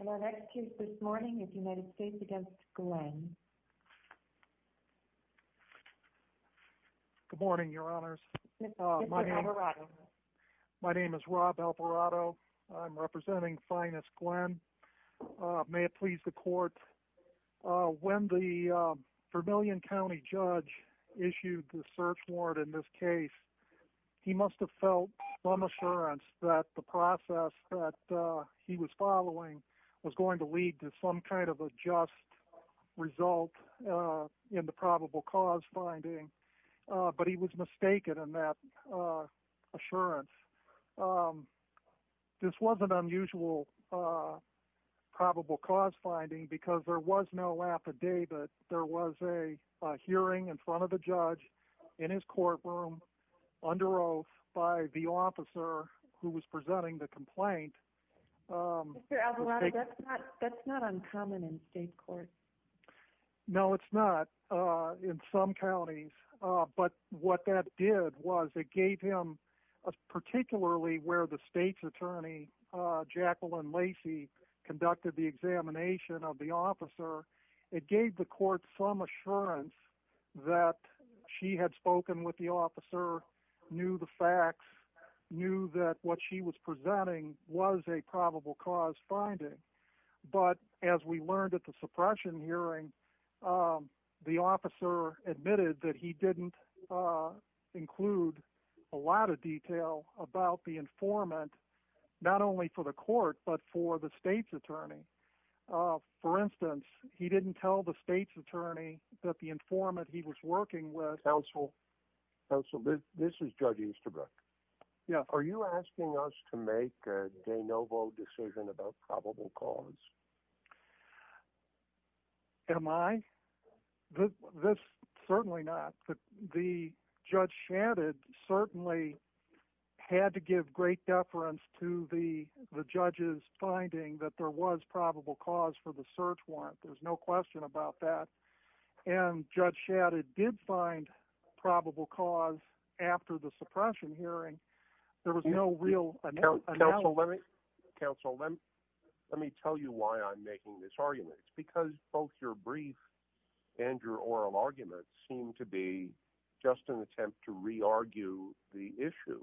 Good morning, your honors. My name is Rob Alperado. I'm representing Finas Glenn. May it please the court, when the Vermillion County judge issued the search warrant in this case, he must have felt some assurance that the process that he was following was going to lead to some kind of a just result in the probable cause finding, but he was mistaken in that assurance. This wasn't unusual probable cause finding because there was no affidavit. There was a hearing in his courtroom under oath by the officer who was presenting the complaint. That's not uncommon in state court. No, it's not in some counties, but what that did was it gave him, particularly where the state's attorney, Jacqueline Lacey, conducted the examination of the officer, it gave the court some assurance that she had spoken with the officer, knew the facts, knew that what she was presenting was a probable cause finding, but as we learned at the suppression hearing, the officer admitted that he didn't include a lot of detail about the informant, not only for the court, but for the state's informant he was working with. Counsel, this is Judge Easterbrook. Are you asking us to make a de novo decision about probable cause? Am I? Certainly not. The judge chatted, certainly had to give great deference to the judge's finding that there was probable cause for the search warrant. There's no question about that. And Judge Shadid did find probable cause after the suppression hearing. There was no real... Counsel, let me tell you why I'm making this argument. It's because both your brief and your oral arguments seem to be just an attempt to re-argue the issue,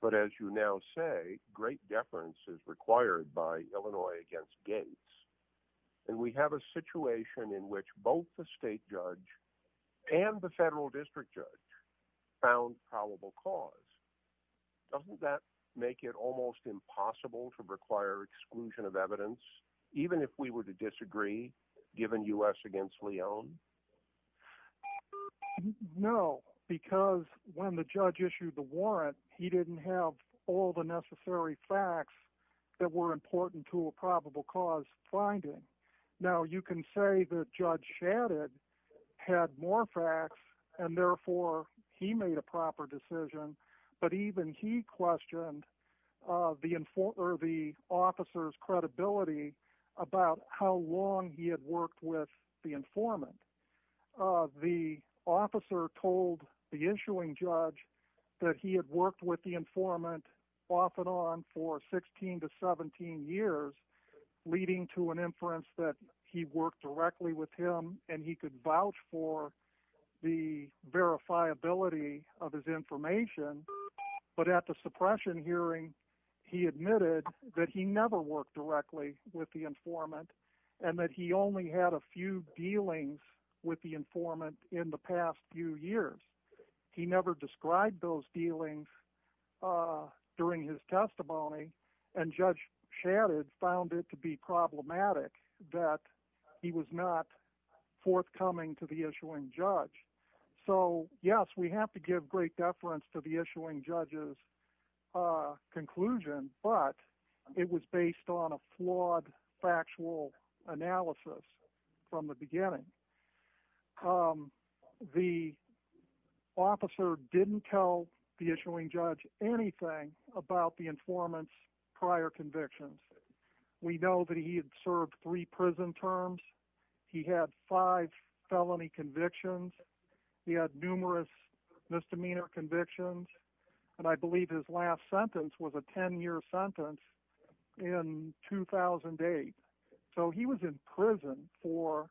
but as you now say, great deference is required by Illinois against Gates, and we have a situation in which both the state judge and the federal district judge found probable cause. Doesn't that make it almost impossible to require exclusion of evidence, even if we were to disagree, given U.S. against Leon? No, because when the judge issued the warrant, he didn't have all the necessary facts that were important to a probable cause finding. Now, you can say that Judge Shadid had more facts, and therefore he made a proper decision, but even he questioned the officer's credibility about how long he had worked with the informant. The officer told the issuing judge that he had worked with the informant off and on for 16 to 17 years, leading to an inference that he worked directly with him and he could vouch for the verifiability of his information, but at the with the informant, and that he only had a few dealings with the informant in the past few years. He never described those dealings during his testimony, and Judge Shadid found it to be problematic that he was not forthcoming to the issuing judge. So yes, we have to give great deference to the issuing judge's conclusion, but it was based on a flawed factual analysis from the beginning. The officer didn't tell the issuing judge anything about the informant's prior convictions. We know that he had served three prison terms, he had five felony convictions, he had numerous misdemeanor convictions, and I believe his last sentence was a 10-year sentence in 2008. So he was in prison for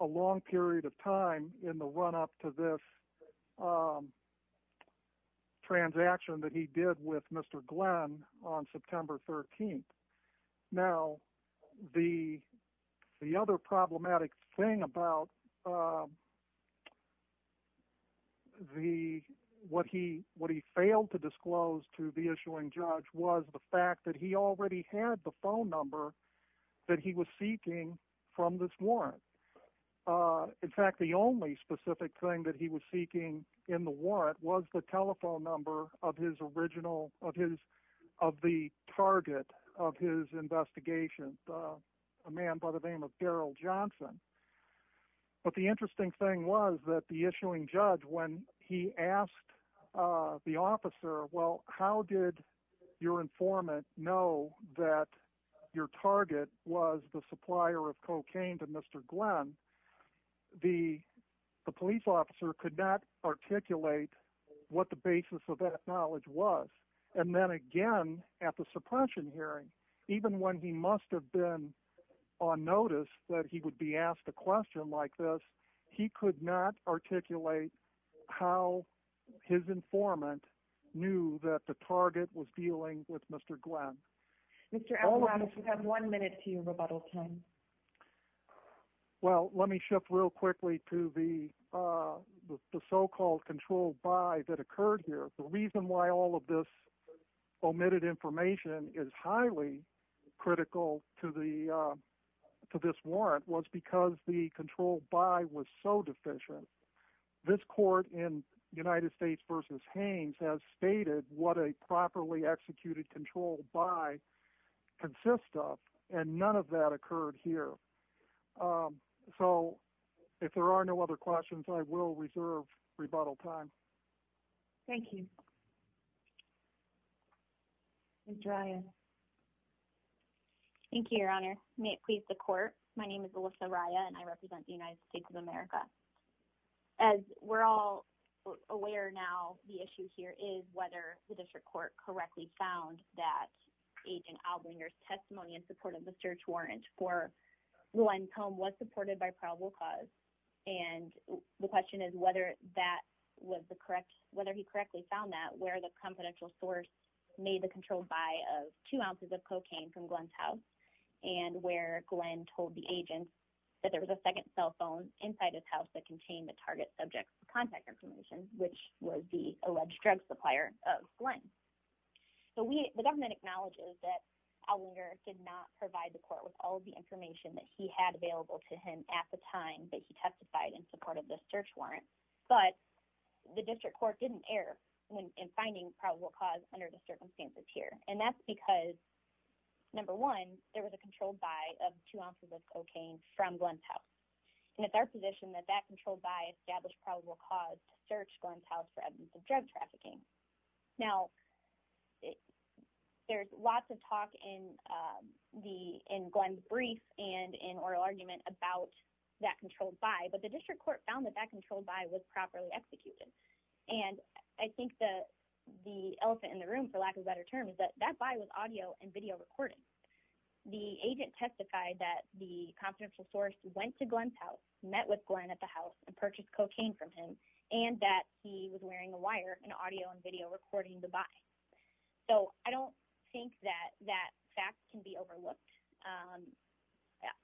a long period of time in the run-up to this transaction that he did with Mr. Glenn on September 13th. Now the other problematic thing about what he failed to disclose to the issuing judge was the fact that he already had the phone number that he was seeking from this warrant. In fact, the only specific thing that he was seeking in the warrant was the telephone number of the target of his investigation, a man by the name of Daryl Johnson. But the interesting thing was that the issuing judge, when he asked the officer, well, how did your informant know that your target was the supplier of cocaine to Mr. Glenn, the police officer could not articulate what the basis of that knowledge was. And then again, at the suppression hearing, even when he must have been on notice that he would be asked a question like this, he could not articulate how his informant knew that the target was dealing with Mr. Glenn. Mr. Avalon, we have one minute to your rebuttal time. Well, let me shift real quickly to the so-called controlled buy that occurred here. The reason why all of this omitted information is highly critical to this warrant was because the controlled buy was so deficient. This court in United States v. Hanes has stated what a properly executed controlled buy consists of, and none of that occurred here. So if there are no other questions, I will turn it over to Alyssa Rya. Thank you, Your Honor. May it please the court. My name is Alyssa Rya, and I represent the United States of America. As we're all aware now, the issue here is whether the district court correctly found that Agent Albringer's testimony in support of the search warrant for Glenn's home was supported by probable cause. And the question is whether he correctly found that, where the confidential source made the controlled buy of two ounces of cocaine from Glenn's house, and where Glenn told the agent that there was a second cell phone inside his house that contained the target subject's contact information, which was the alleged drug supplier of Glenn. The government acknowledges that Albringer did not provide the court with all of the information that he had available to him at the time that he testified in support of the search warrant, but the district court didn't err in finding probable cause under the circumstances here. And that's because, number one, there was a controlled buy of two ounces of cocaine from Glenn's house. And it's our position that that controlled buy established probable cause to search Glenn's house for evidence of drug trafficking. Now, there's lots of talk in the district court that that controlled buy was properly executed. And I think that the elephant in the room, for lack of a better term, is that that buy was audio and video recording. The agent testified that the confidential source went to Glenn's house, met with Glenn at the house, and purchased cocaine from him, and that he was wearing a wire in audio and video recording the buy. So I don't think that that fact can be overlooked.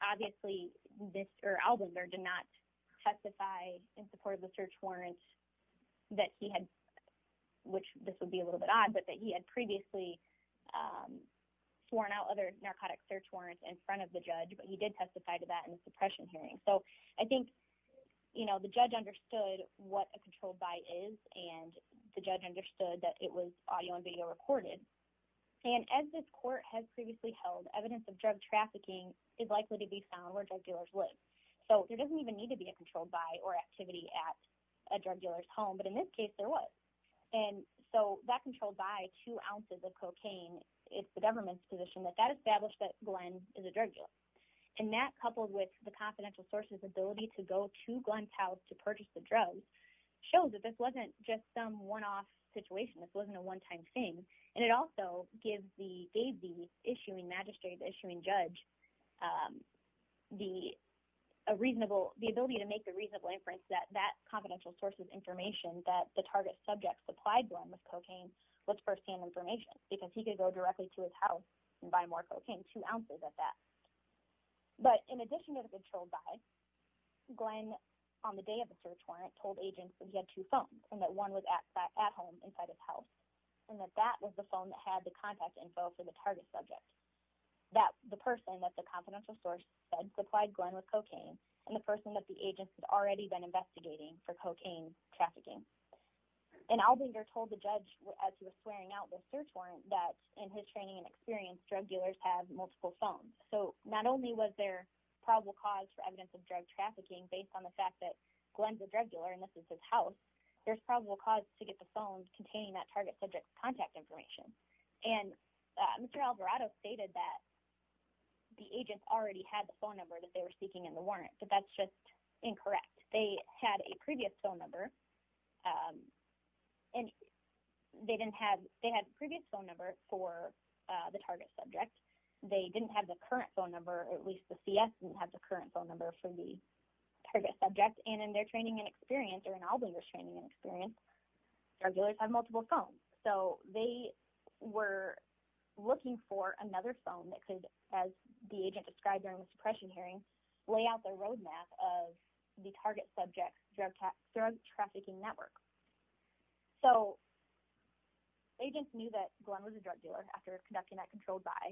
Obviously, Albringer did not testify in support of the search warrant that he had, which this would be a little bit odd, but that he had previously sworn out other narcotic search warrants in front of the judge, but he did testify to that in the suppression hearing. So I think, you know, the judge understood what a controlled buy is, and the judge understood that it was audio and video recorded. And as this court has previously held, evidence of drug trafficking is likely to be found where drug or activity at a drug dealer's home, but in this case there was. And so that controlled buy, two ounces of cocaine, it's the government's position that that established that Glenn is a drug dealer. And that, coupled with the confidential source's ability to go to Glenn's house to purchase the drugs, shows that this wasn't just some one-off situation. This wasn't a one-time thing. And it also gives the agency issuing magistrate, issuing judge, a reasonable, the ability to make a reasonable inference that that confidential source of information that the target subject supplied Glenn with cocaine was first-hand information, because he could go directly to his house and buy more cocaine, two ounces of that. But in addition to the controlled buy, Glenn, on the day of the search warrant, told agents that he had two phones, and that one was at home inside his house, and that that was the phone that had the contact info for the target subject. That, the person that the confidential source said supplied Glenn with cocaine, and the person that the agents had already been investigating for cocaine trafficking. And Aldinger told the judge, as he was swearing out the search warrant, that in his training and experience, drug dealers have multiple phones. So not only was there probable cause for evidence of drug trafficking based on the fact that Glenn's a drug dealer and this is his house, there's probable cause to get the phone containing that target subject's contact information. And Mr. Alvarado stated that the agents already had the phone number that they were seeking in the warrant, but that's just incorrect. They had a previous phone number, and they didn't have, they had a previous phone number for the target subject. They didn't have the current phone number, at least the CS didn't have the current phone number for the target subject. And in their training and experience, or in So they were looking for another phone that could, as the agent described during the suppression hearing, lay out the roadmap of the target subject's drug trafficking network. So agents knew that Glenn was a drug dealer after conducting that controlled buy.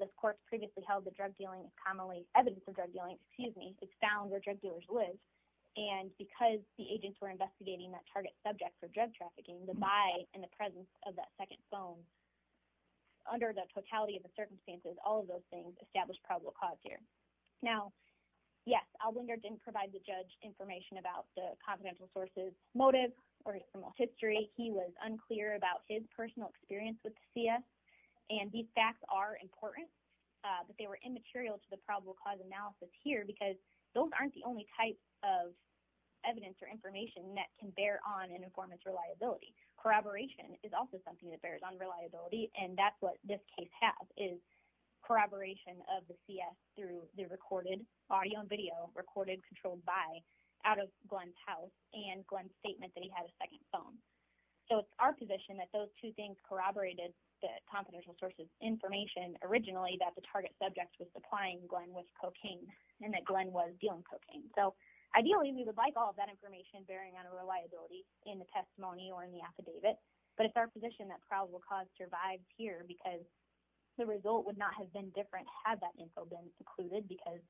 This court previously held that drug dealing is commonly, evidence of drug dealing, excuse me, is found where drug dealers live. And because the agents were investigating that target subject for drug trafficking, the buy and the presence of that second phone, under the totality of the circumstances, all of those things established probable cause here. Now, yes, Alwinder didn't provide the judge information about the confidential sources motive or his criminal history. He was unclear about his personal experience with the CS. And these facts are important, but they were immaterial to the probable cause analysis here, because those aren't the only types of evidence or information that can bear on an informant's reliability. Corroboration is also something that bears on reliability, and that's what this case has, is corroboration of the CS through the recorded audio and video, recorded, controlled buy, out of Glenn's house and Glenn's statement that he had a second phone. So it's our position that those two things corroborated the confidential sources information originally that the target subject was supplying Glenn with cocaine and that Glenn was dealing cocaine. So ideally, we would like all of that information bearing on a reliability in the testimony or in the affidavit, but it's our position that probable cause survives here, because the result would not have been different had that info been included, because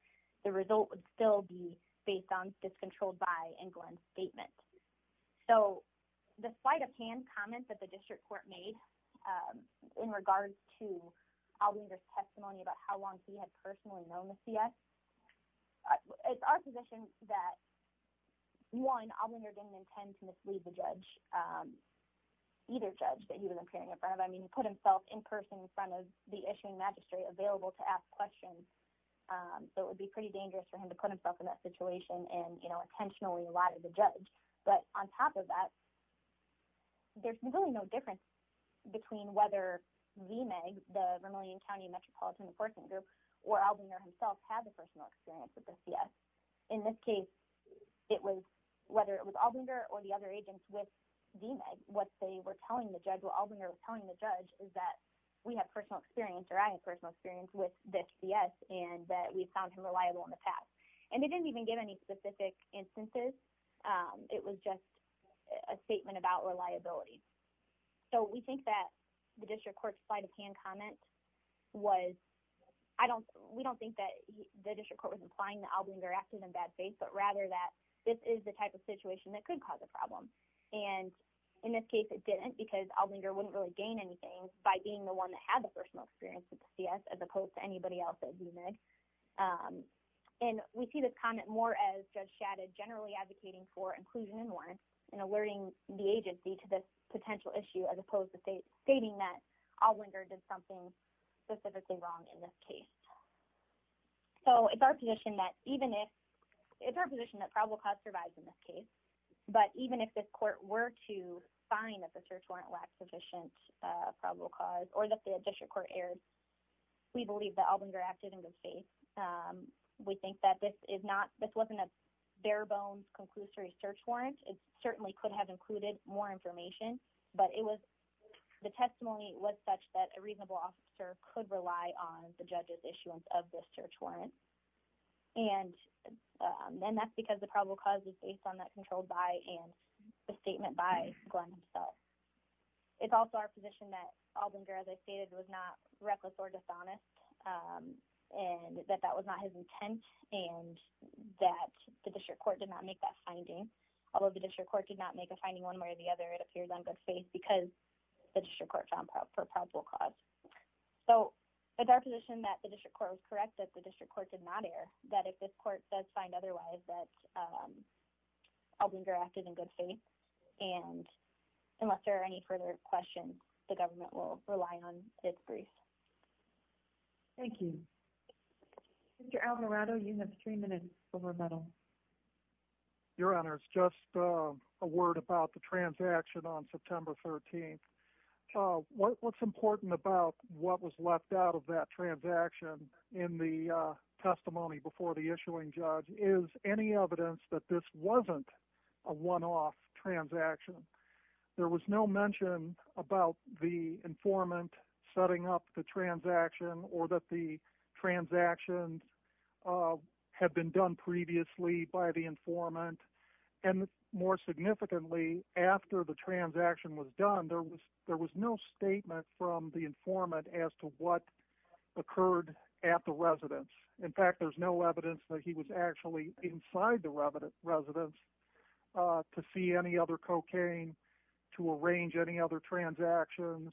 the result would still be based on this controlled buy and Glenn's statement. So the sleight of hand comments that the district court made in regards to Alwinder's testimony about how long he had known the CS, it's our position that, one, Alwinder didn't intend to mislead the judge, either judge that he was appearing in front of. I mean, he put himself in person in front of the issuing magistrate available to ask questions, so it would be pretty dangerous for him to put himself in that situation and intentionally lie to the judge. But on top of that, there's really no difference between whether VMAG, the Vermilion County Metropolitan Enforcement Group, or Alwinder himself had a personal experience with the CS. In this case, it was whether it was Alwinder or the other agents with VMAG, what they were telling the judge, what Alwinder was telling the judge is that we have personal experience, or I have personal experience with the CS, and that we've found him reliable in the past. And they didn't even give any specific instances. It was just a statement about reliability. So we think that the district court's side of hand comment was, we don't think that the district court was implying that Alwinder acted in bad faith, but rather that this is the type of situation that could cause a problem. And in this case, it didn't, because Alwinder wouldn't really gain anything by being the one that had the personal experience with the CS as opposed to anybody else at VMAG. And we see this comment more as Judge Shadid generally advocating for potential issue as opposed to stating that Alwinder did something specifically wrong in this case. So it's our position that even if, it's our position that probable cause survives in this case, but even if this court were to find that the search warrant lacked sufficient probable cause, or that the district court erred, we believe that Alwinder acted in good faith. We think that this is not, this wasn't a bare bones conclusory search warrant. It certainly could have included more information, but it was, the testimony was such that a reasonable officer could rely on the judge's issuance of this search warrant. And then that's because the probable cause is based on that controlled by and the statement by Glenn himself. It's also our position that Alwinder, as I stated, was not reckless or dishonest, and that that was not his finding one way or the other. It appears on good faith because the district court found for probable cause. So it's our position that the district court was correct, that the district court did not err, that if this court does find otherwise, that Alwinder acted in good faith. And unless there are any further questions, the government will rely on this brief. Thank you. Mr. Alvarado, you have three minutes for rebuttal. Your honors, just a word about the transaction on September 13th. What's important about what was left out of that transaction in the testimony before the issuing judge is any evidence that this wasn't a one-off transaction. There was no mention about the informant setting up the transaction or that the transactions had been done previously by the informant. And more significantly, after the transaction was done, there was no statement from the informant as to what occurred at the residence. In fact, there's no evidence that he was actually inside the residence to see any other cocaine, to arrange any other transactions,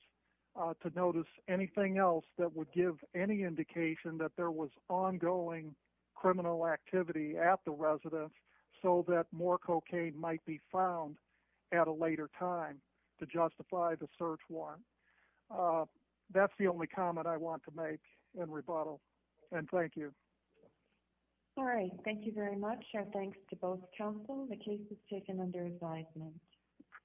to notice anything else that would give any indication that there was ongoing criminal activity at the residence so that more cocaine might be found at a later time to justify the search warrant. That's the only comment I want to make in rebuttal. And thank you. All right. Thank you very much. Our thanks to both counsel. The case is taken under advisement.